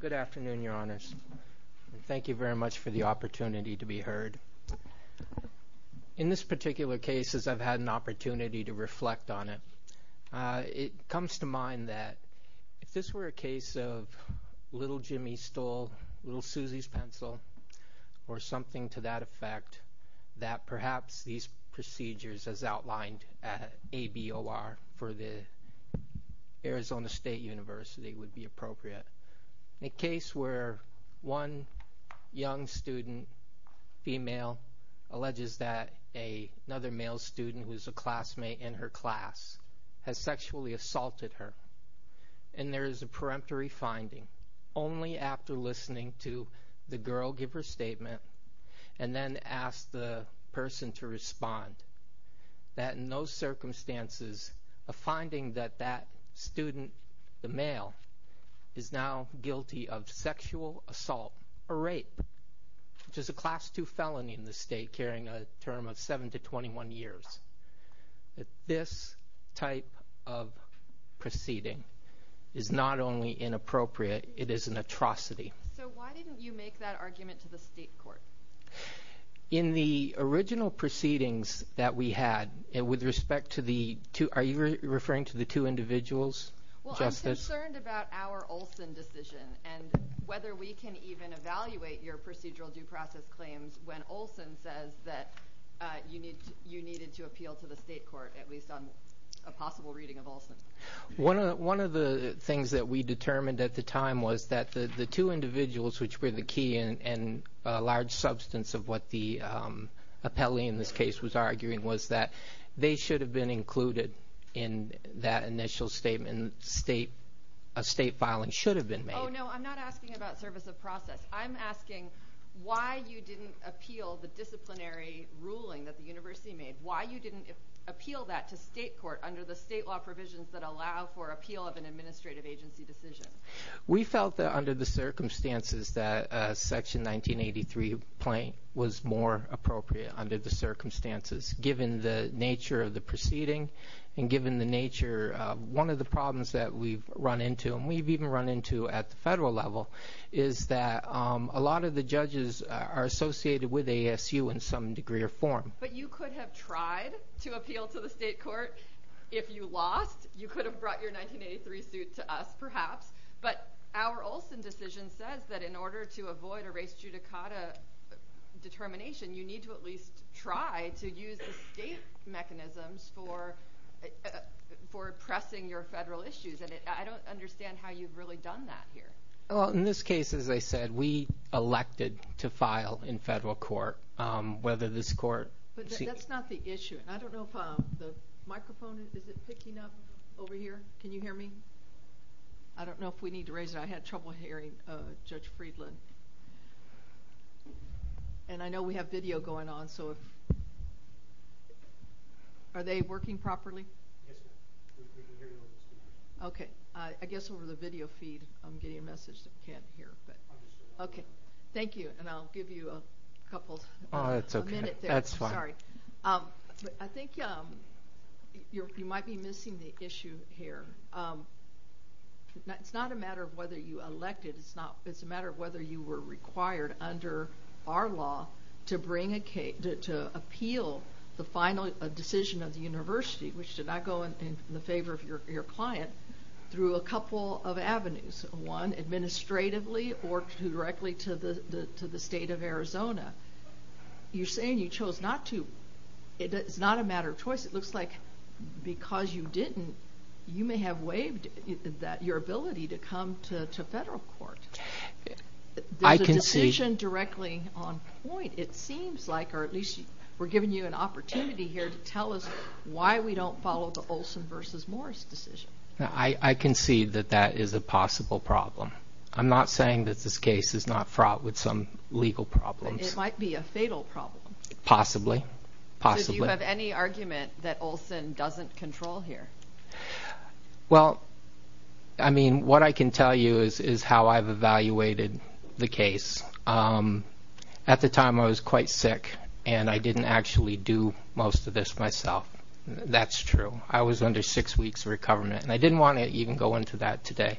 Good afternoon, Your Honors. Thank you very much for the opportunity to be heard. In this particular case, as I've had an opportunity to reflect on it, it comes to mind that if this were a case of little Jimmy stole little Susie's pencil, or something to that effect, that perhaps these procedures as outlined at ABOR for the Arizona State Board of Regents would not have been possible. In a case where one young student, female, alleges that another male student who is a classmate in her class has sexually assaulted her, and there is a peremptory finding, only after listening to the girl give her statement, and then ask the person to respond. That in those circumstances, a finding that that student, the male, is now guilty of sexual assault or rape, which is a class 2 felony in this state, carrying a term of 7 to 21 years. This type of proceeding is not only inappropriate, it is an atrocity. So why didn't you make that argument to the state court? In the original proceedings that we had, with respect to the two, are you referring to the two individuals? Well, I'm concerned about our Olson decision, and whether we can even evaluate your procedural due process claims when Olson says that you needed to appeal to the state court, at least on a possible reading of Olson. One of the things that we determined at the time was that the two individuals, which were the key and large substance of what the appellee in this case was arguing, was that they should have been included in that initial statement. A state filing should have been made. Oh no, I'm not asking about service of process. I'm asking why you didn't appeal the disciplinary ruling that the university made. Why you didn't appeal that to state court under the state law provisions that allow for appeal of an administrative agency decision. We felt that under the circumstances that Section 1983 was more appropriate under the circumstances, given the nature of the proceeding, and given the nature of one of the problems that we've run into, and we've even run into at the federal level, is that a lot of the judges are associated with ASU in some degree or form. But you could have tried to appeal to the state court if you lost. You could have brought your 1983 suit to us, perhaps. But our Olson decision says that in order to avoid a race judicata determination, you need to at least try to use the state mechanisms for pressing your federal issues. And I don't understand how you've really done that here. Well, in this case, as I said, we elected to file in federal court whether this court... But that's not the issue. I don't know if the microphone is picking up over here. Can you hear me? I don't know if we need to raise it. I had trouble hearing Judge Friedland. And I know we have video going on, so if... Are they working properly? Yes, ma'am. We can hear you. Okay. I guess over the video feed, I'm getting a message that we can't hear. Okay. Thank you. And I'll give you a couple minutes. That's fine. I think you might be missing the issue here. It's not a matter of whether you elected. It's a matter of whether you were required under our law to appeal the final decision of the university, which did not go in the favor of your client, through a couple of avenues. One, administratively or directly to the state of Arizona. You're saying you chose not to. It's not a matter of choice. It looks like because you didn't, you may have waived your ability to come to federal court. There's a decision directly on point, it seems like, or at least we're giving you an opportunity here to tell us why we don't follow the Olson v. Morris decision. I concede that that is a possible problem. I'm not saying that this case is not fraught with some legal problems. It might be a fatal problem. Possibly. Possibly. Do you have any argument that Olson doesn't control here? Well, I mean, what I can tell you is how I've evaluated the case. At the time, I was quite sick, and I didn't actually do most of this myself. That's true. I was under six weeks' recoverment, and I didn't want to even go into that today.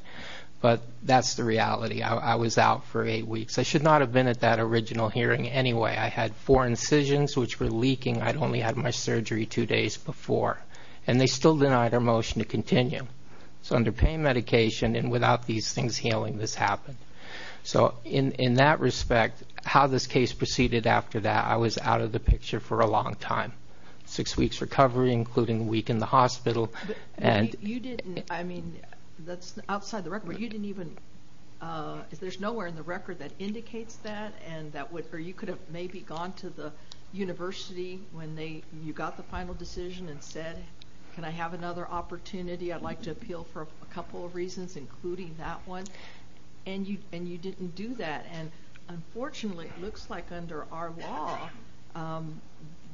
But that's the reality. I was out for eight weeks. I should not have been at that original hearing anyway. I had four incisions which were leaking. I'd only had my surgery two days before. And they still denied our motion to continue. So under pain medication and without these things healing, this happened. So in that respect, how this case proceeded after that, I was out of the picture for a long time. Six weeks' recovery, including a week in the hospital. You didn't, I mean, that's outside the record, but you didn't even, there's nowhere in the record that indicates that, or you could have maybe gone to the university when you got the final decision and said, can I have another opportunity? I'd like to appeal for a couple of reasons, including that one. And you didn't do that. And unfortunately, it looks like under our law,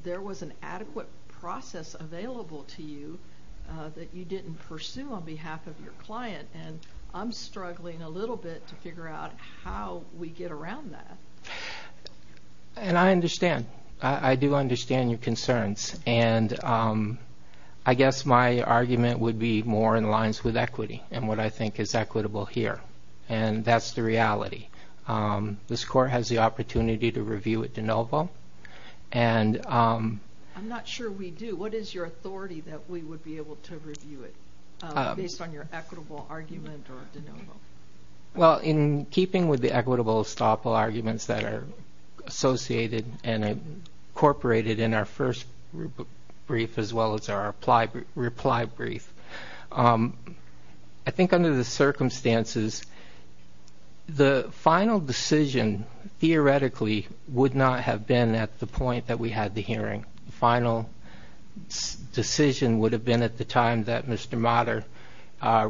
there was an adequate process available to you that you didn't pursue on behalf of your client. And I'm struggling a little bit to figure out how we get around that. And I understand. I do understand your concerns. And I guess my argument would be more in lines with equity and what I think is equitable here. And that's the reality. This court has the opportunity to review it de novo. I'm not sure we do. What is your authority that we would be able to review it based on your equitable argument or de novo? Well, in keeping with the equitable estoppel arguments that are associated and incorporated in our first brief as well as our reply brief, I think under the circumstances, the final decision theoretically would not have been at the point that we had the hearing. The final decision would have been at the time that Mr. Mater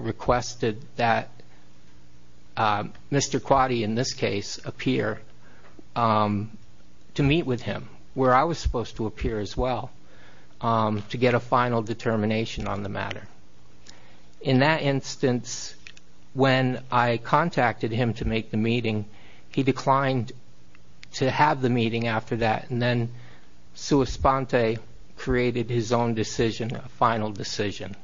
requested that Mr. Quadi, in this case, appear to meet with him where I was supposed to appear as well to get a final determination on the matter. In that instance, when I contacted him to make the meeting, he declined to have the meeting after that and then sua sponte created his own decision, a final decision.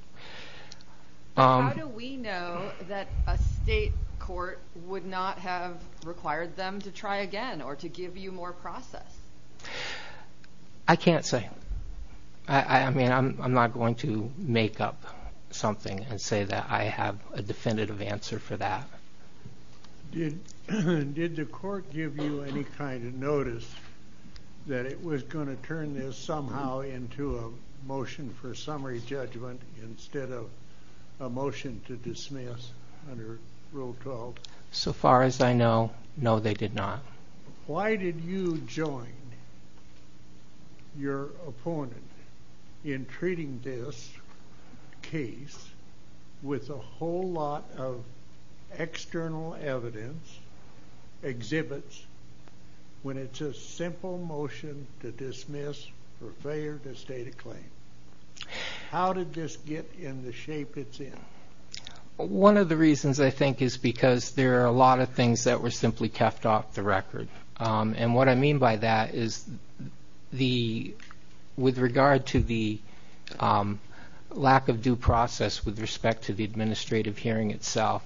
How do we know that a state court would not have required them to try again or to give you more process? I can't say. I mean, I'm not going to make up something and say that I have a definitive answer for that. Did the court give you any kind of notice that it was going to turn this somehow into a motion for summary judgment instead of a motion to dismiss under Rule 12? So far as I know, no, they did not. Why did you join your opponent in treating this case with a whole lot of external evidence, exhibits, when it's a simple motion to dismiss for failure to state a claim? How did this get in the shape it's in? One of the reasons I think is because there are a lot of things that were simply kept off the record. And what I mean by that is with regard to the lack of due process with respect to the administrative hearing itself.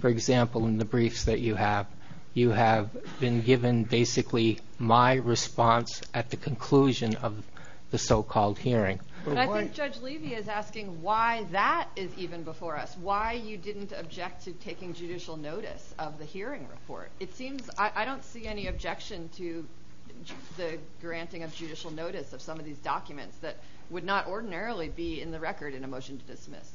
For example, in the briefs that you have, you have been given basically my response at the conclusion of the so-called hearing. I think Judge Levy is asking why that is even before us. Why you didn't object to taking judicial notice of the hearing report. I don't see any objection to the granting of judicial notice of some of these documents that would not ordinarily be in the record in a motion to dismiss.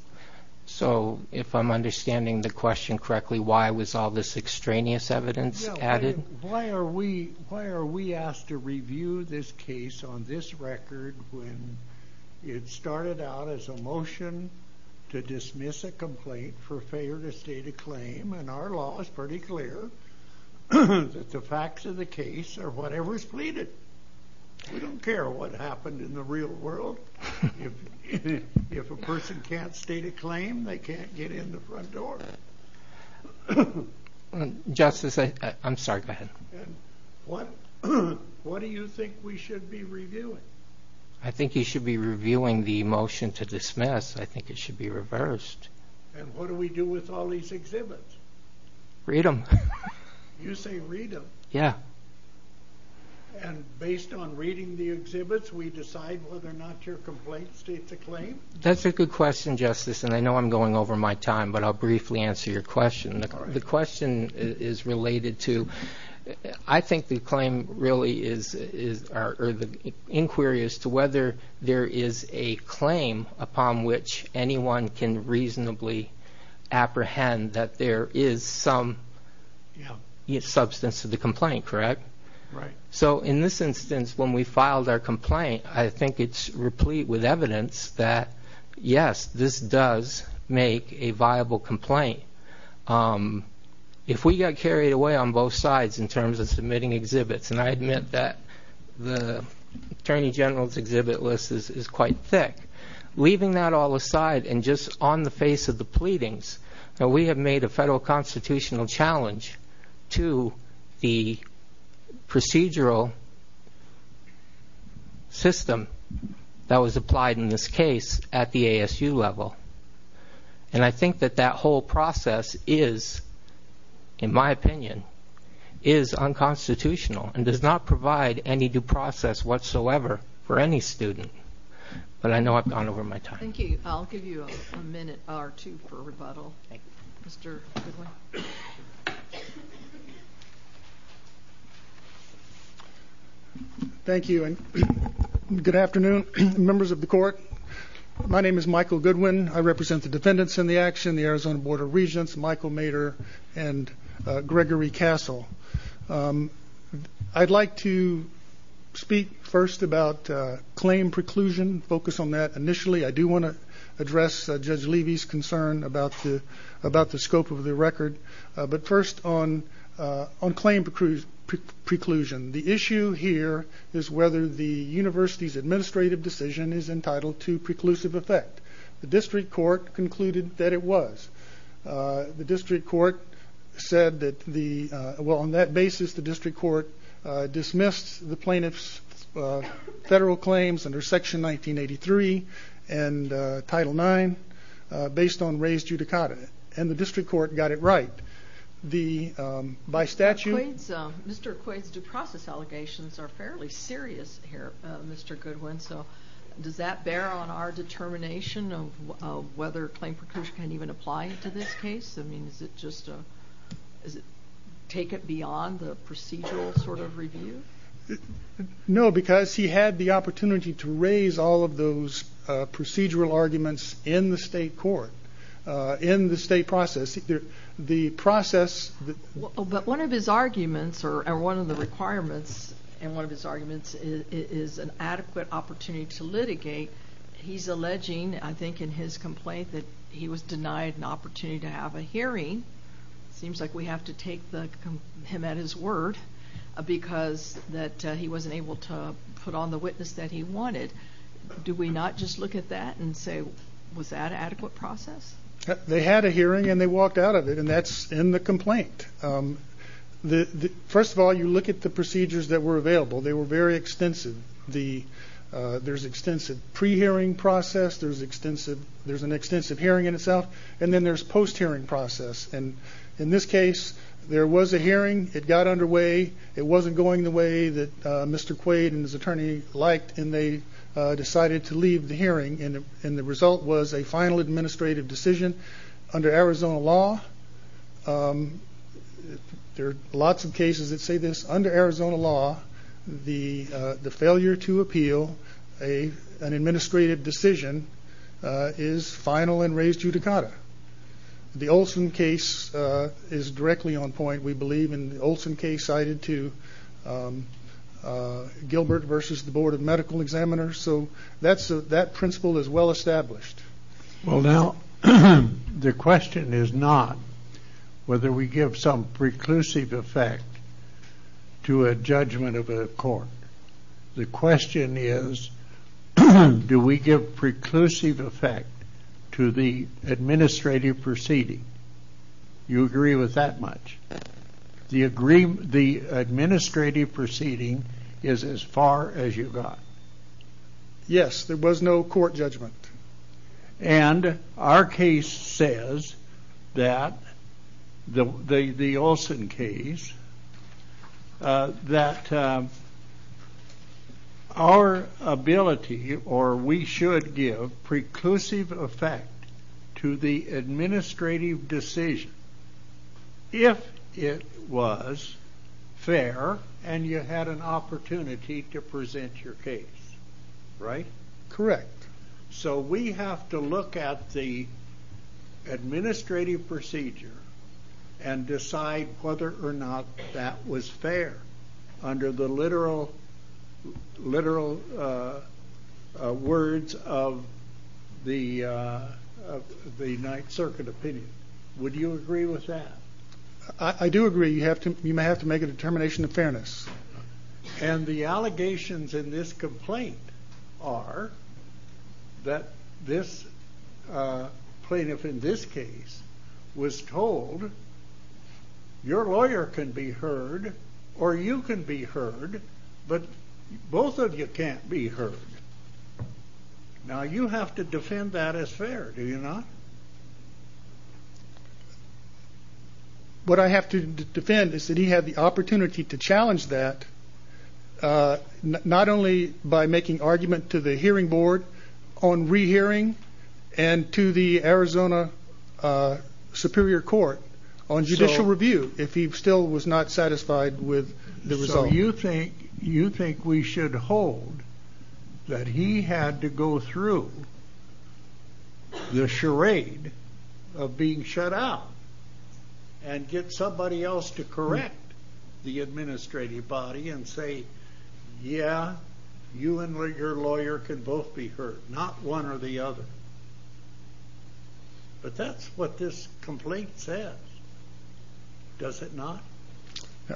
So if I'm understanding the question correctly, why was all this extraneous evidence added? Why are we asked to review this case on this record when it started out as a motion to dismiss a complaint for failure to state a claim? And our law is pretty clear that the facts of the case are whatever is pleaded. We don't care what happened in the real world. If a person can't state a claim, they can't get in the front door. Justice, I'm sorry, go ahead. What do you think we should be reviewing? I think you should be reviewing the motion to dismiss. I think it should be reversed. And what do we do with all these exhibits? Read them. You say read them? Yeah. And based on reading the exhibits, we decide whether or not your complaint states a claim? That's a good question, Justice, and I know I'm going over my time, but I'll briefly answer your question. The question is related to I think the claim really is or the inquiry as to whether there is a claim upon which anyone can reasonably apprehend that there is some substance to the complaint, correct? Right. So in this instance, when we filed our complaint, I think it's replete with evidence that, yes, this does make a viable complaint. If we got carried away on both sides in terms of submitting exhibits, and I admit that the Attorney General's exhibit list is quite thick, leaving that all aside and just on the face of the pleadings, we have made a federal constitutional challenge to the procedural system that was applied in this case at the ASU level. And I think that that whole process is, in my opinion, is unconstitutional and does not provide any due process whatsoever for any student. But I know I've gone over my time. Thank you. I'll give you a minute or two for rebuttal. Thank you. Mr. Goodwin. Thank you, and good afternoon, members of the Court. My name is Michael Goodwin. I represent the defendants in the action, the Arizona Board of Regents, Michael Mader and Gregory Castle. I'd like to speak first about claim preclusion, focus on that initially. I do want to address Judge Levy's concern about the scope of the record, but first on claim preclusion. The issue here is whether the university's administrative decision is entitled to preclusive effect. The district court concluded that it was. The district court said that the – well, on that basis, the district court dismissed the plaintiff's federal claims under Section 1983 and Title IX based on raised judicata, and the district court got it right. The – by statute – Mr. Quaid's due process allegations are fairly serious here, Mr. Goodwin, so does that bear on our determination of whether claim preclusion can even apply to this case? I mean, is it just a – does it take it beyond the procedural sort of review? No, because he had the opportunity to raise all of those procedural arguments in the state court, in the state process. The process – But one of his arguments or one of the requirements in one of his arguments is an adequate opportunity to litigate. He's alleging, I think, in his complaint that he was denied an opportunity to have a hearing. It seems like we have to take him at his word because that he wasn't able to put on the witness that he wanted. Do we not just look at that and say, was that an adequate process? They had a hearing, and they walked out of it, and that's in the complaint. First of all, you look at the procedures that were available. They were very extensive. There's extensive pre-hearing process. There's extensive – there's an extensive hearing in itself, and then there's post-hearing process. And in this case, there was a hearing. It got underway. It wasn't going the way that Mr. Quaid and his attorney liked, and they decided to leave the hearing, and the result was a final administrative decision under Arizona law. There are lots of cases that say this. Under Arizona law, the failure to appeal an administrative decision is final and raised judicata. The Olson case is directly on point, we believe, and the Olson case cited to Gilbert versus the Board of Medical Examiners. So that principle is well established. Well, now, the question is not whether we give some preclusive effect to a judgment of a court. The question is, do we give preclusive effect to the administrative proceeding? You agree with that much? Do you agree the administrative proceeding is as far as you got? Yes, there was no court judgment. And our case says that – the Olson case – that our ability or we should give preclusive effect to the administrative decision if it was fair and you had an opportunity to present your case, right? Correct. So we have to look at the administrative procedure and decide whether or not that was fair under the literal words of the Ninth Circuit opinion. Would you agree with that? I do agree. You may have to make a determination of fairness. And the allegations in this complaint are that this plaintiff in this case was told, your lawyer can be heard or you can be heard, but both of you can't be heard. Now, you have to defend that as fair, do you not? What I have to defend is that he had the opportunity to challenge that, not only by making argument to the hearing board on rehearing and to the Arizona Superior Court on judicial review, if he still was not satisfied with the result. So you think we should hold that he had to go through the charade of being shut out and get somebody else to correct the administrative body and say, yeah, you and your lawyer can both be heard, not one or the other. But that's what this complaint says, does it not?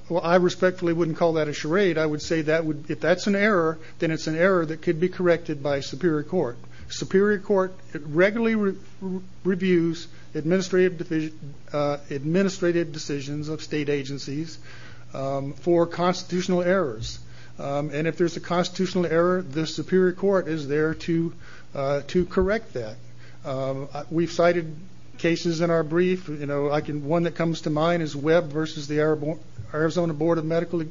Well, I respectfully wouldn't call that a charade. I would say if that's an error, then it's an error that could be corrected by Superior Court. Superior Court regularly reviews administrative decisions of state agencies for constitutional errors. And if there's a constitutional error, the Superior Court is there to correct that. We've cited cases in our brief. One that comes to mind is Webb versus the Arizona Board of Medical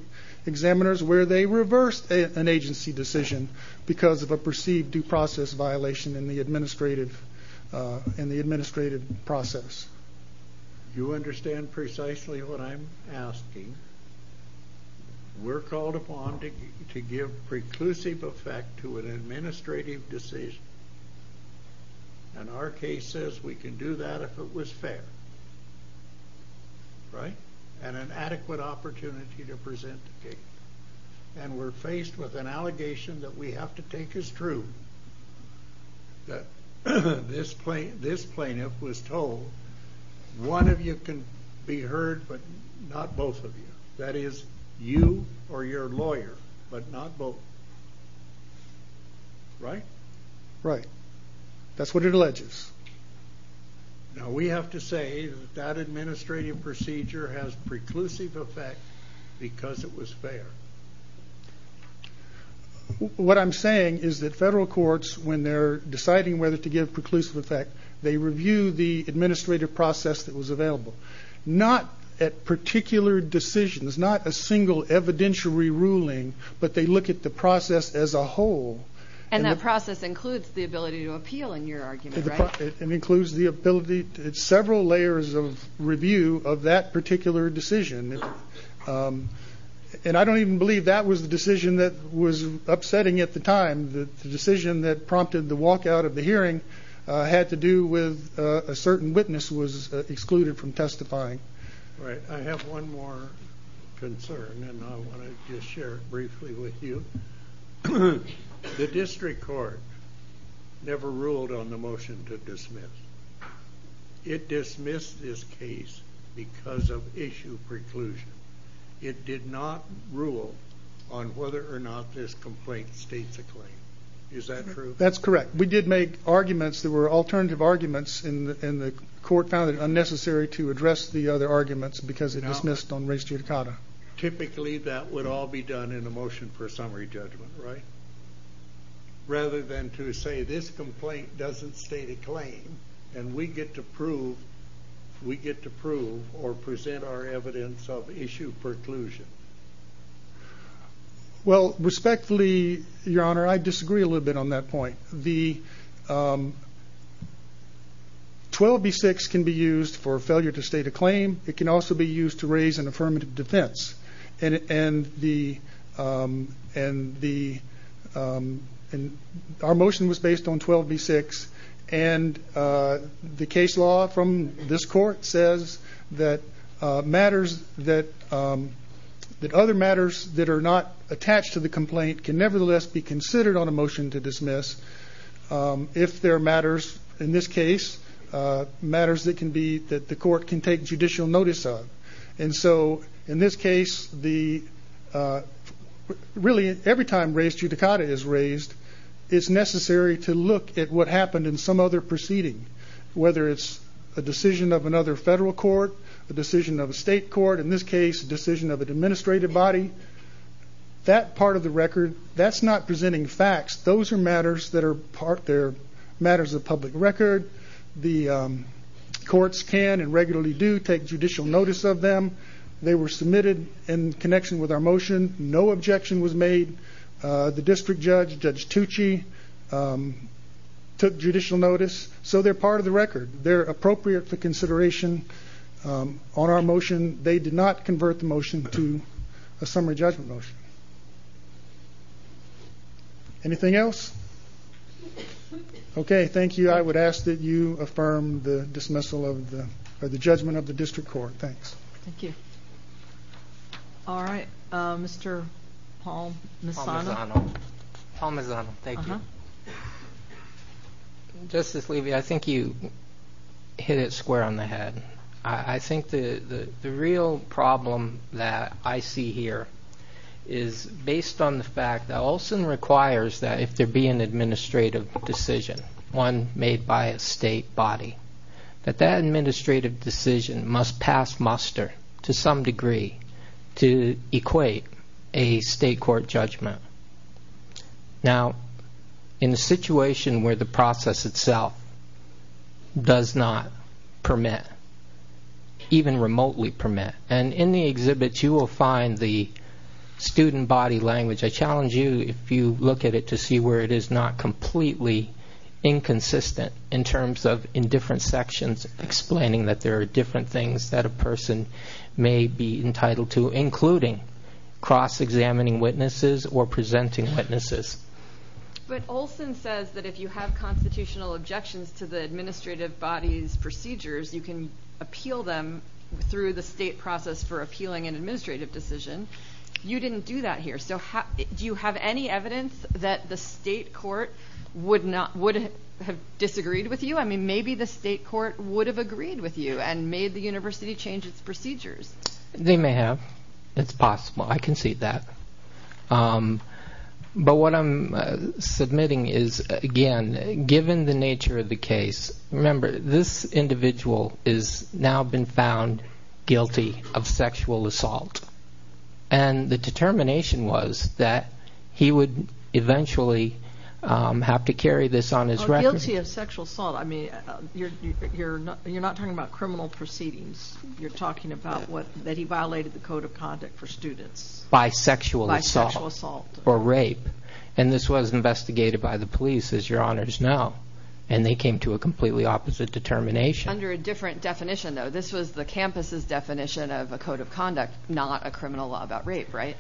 Examiners where they reversed an agency decision because of a perceived due process violation in the administrative process. You understand precisely what I'm asking. We're called upon to give preclusive effect to an administrative decision, and our case says we can do that if it was fair and an adequate opportunity to present the case. And we're faced with an allegation that we have to take as true, that this plaintiff was told, one of you can be heard but not both of you. That is, you or your lawyer, but not both. Right? Right. That's what it alleges. Now we have to say that that administrative procedure has preclusive effect because it was fair. What I'm saying is that federal courts, when they're deciding whether to give preclusive effect, they review the administrative process that was available. Not at particular decisions, not a single evidentiary ruling, but they look at the process as a whole. And that process includes the ability to appeal in your argument, right? It includes the ability, several layers of review of that particular decision. And I don't even believe that was the decision that was upsetting at the time. The decision that prompted the walkout of the hearing had to do with a certain witness was excluded from testifying. Right. I have one more concern, and I want to just share it briefly with you. The district court never ruled on the motion to dismiss. It dismissed this case because of issue preclusion. It did not rule on whether or not this complaint states a claim. Is that true? That's correct. We did make arguments that were alternative arguments, and the court found it unnecessary to address the other arguments because it dismissed on res judicata. Typically that would all be done in a motion for a summary judgment, right? Rather than to say this complaint doesn't state a claim, and we get to prove or present our evidence of issue preclusion. Well, respectfully, Your Honor, I disagree a little bit on that point. The 12B6 can be used for failure to state a claim. It can also be used to raise an affirmative defense. Our motion was based on 12B6, and the case law from this court says that other matters that are not attached to the complaint can nevertheless be considered on a motion to dismiss if there are matters, in this case, matters that the court can take judicial notice of. And so, in this case, really, every time res judicata is raised, it's necessary to look at what happened in some other proceeding, whether it's a decision of another federal court, a decision of a state court, in this case, a decision of an administrative body. That part of the record, that's not presenting facts. Those are matters that are matters of public record. The courts can and regularly do take judicial notice of them. They were submitted in connection with our motion. No objection was made. The district judge, Judge Tucci, took judicial notice, so they're part of the record. They're appropriate for consideration on our motion. They did not convert the motion to a summary judgment motion. Anything else? Okay, thank you. I would ask that you affirm the judgment of the district court. Thanks. Thank you. All right, Mr. Palmisano. Palmisano, thank you. Justice Levy, I think you hit it square on the head. I think the real problem that I see here is based on the fact that Olson requires that if there be an administrative decision, one made by a state body, that that administrative decision must pass muster, to some degree, to equate a state court judgment. Now, in a situation where the process itself does not permit, even remotely permit, and in the exhibits you will find the student body language. I challenge you, if you look at it, to see where it is not completely inconsistent in terms of in different sections explaining that there are different things that a person may be entitled to, including cross-examining witnesses or presenting witnesses. But Olson says that if you have constitutional objections to the administrative body's procedures, you can appeal them through the state process for appealing an administrative decision. You didn't do that here. So do you have any evidence that the state court would have disagreed with you? I mean, maybe the state court would have agreed with you and made the university change its procedures. They may have. It's possible. I concede that. But what I'm submitting is, again, given the nature of the case, remember, this individual has now been found guilty of sexual assault. And the determination was that he would eventually have to carry this on his record. Guilty of sexual assault. I mean, you're not talking about criminal proceedings. You're talking about that he violated the code of conduct for students. By sexual assault or rape. And this was investigated by the police, as your honors know. And they came to a completely opposite determination. Under a different definition, though. This was the campus's definition of a code of conduct, not a criminal law about rape, right?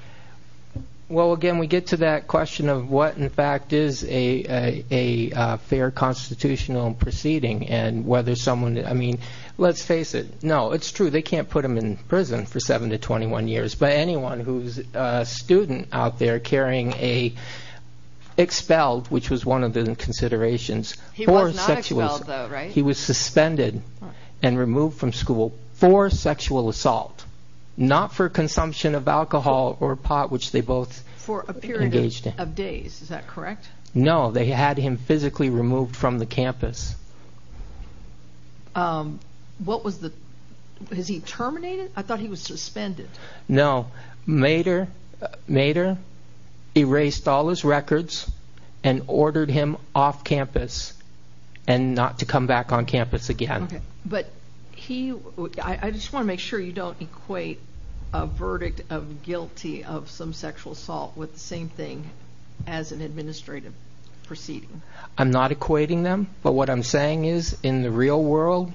Well, again, we get to that question of what, in fact, is a fair constitutional proceeding. And whether someone, I mean, let's face it. No, it's true. They can't put them in prison for 7 to 21 years. But anyone who's a student out there carrying an expelled, which was one of the considerations. He was not expelled, though, right? He was suspended and removed from school for sexual assault. Not for consumption of alcohol or pot, which they both engaged in. For a period of days, is that correct? No, they had him physically removed from the campus. What was the, was he terminated? I thought he was suspended. No, Mader erased all his records and ordered him off campus and not to come back on campus again. But he, I just want to make sure you don't equate a verdict of guilty of some sexual assault with the same thing as an administrative proceeding. I'm not equating them. But what I'm saying is, in the real world,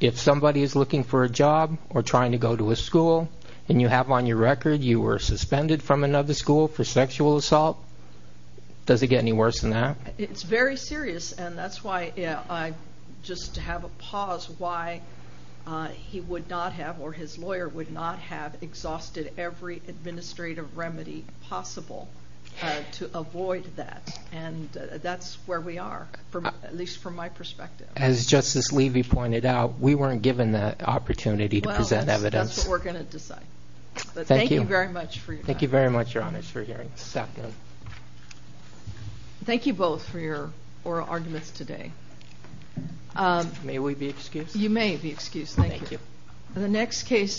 if somebody is looking for a job or trying to go to a school, and you have on your record you were suspended from another school for sexual assault, does it get any worse than that? It's very serious. And that's why I, just to have a pause, why he would not have, or his lawyer would not have, exhausted every administrative remedy possible to avoid that. And that's where we are, at least from my perspective. As Justice Levy pointed out, we weren't given the opportunity to present evidence. Well, that's what we're going to decide. Thank you very much for your time. Thank you very much, Your Honors, for hearing us this afternoon. Thank you both for your oral arguments today. May we be excused? You may be excused. Thank you. Thank you.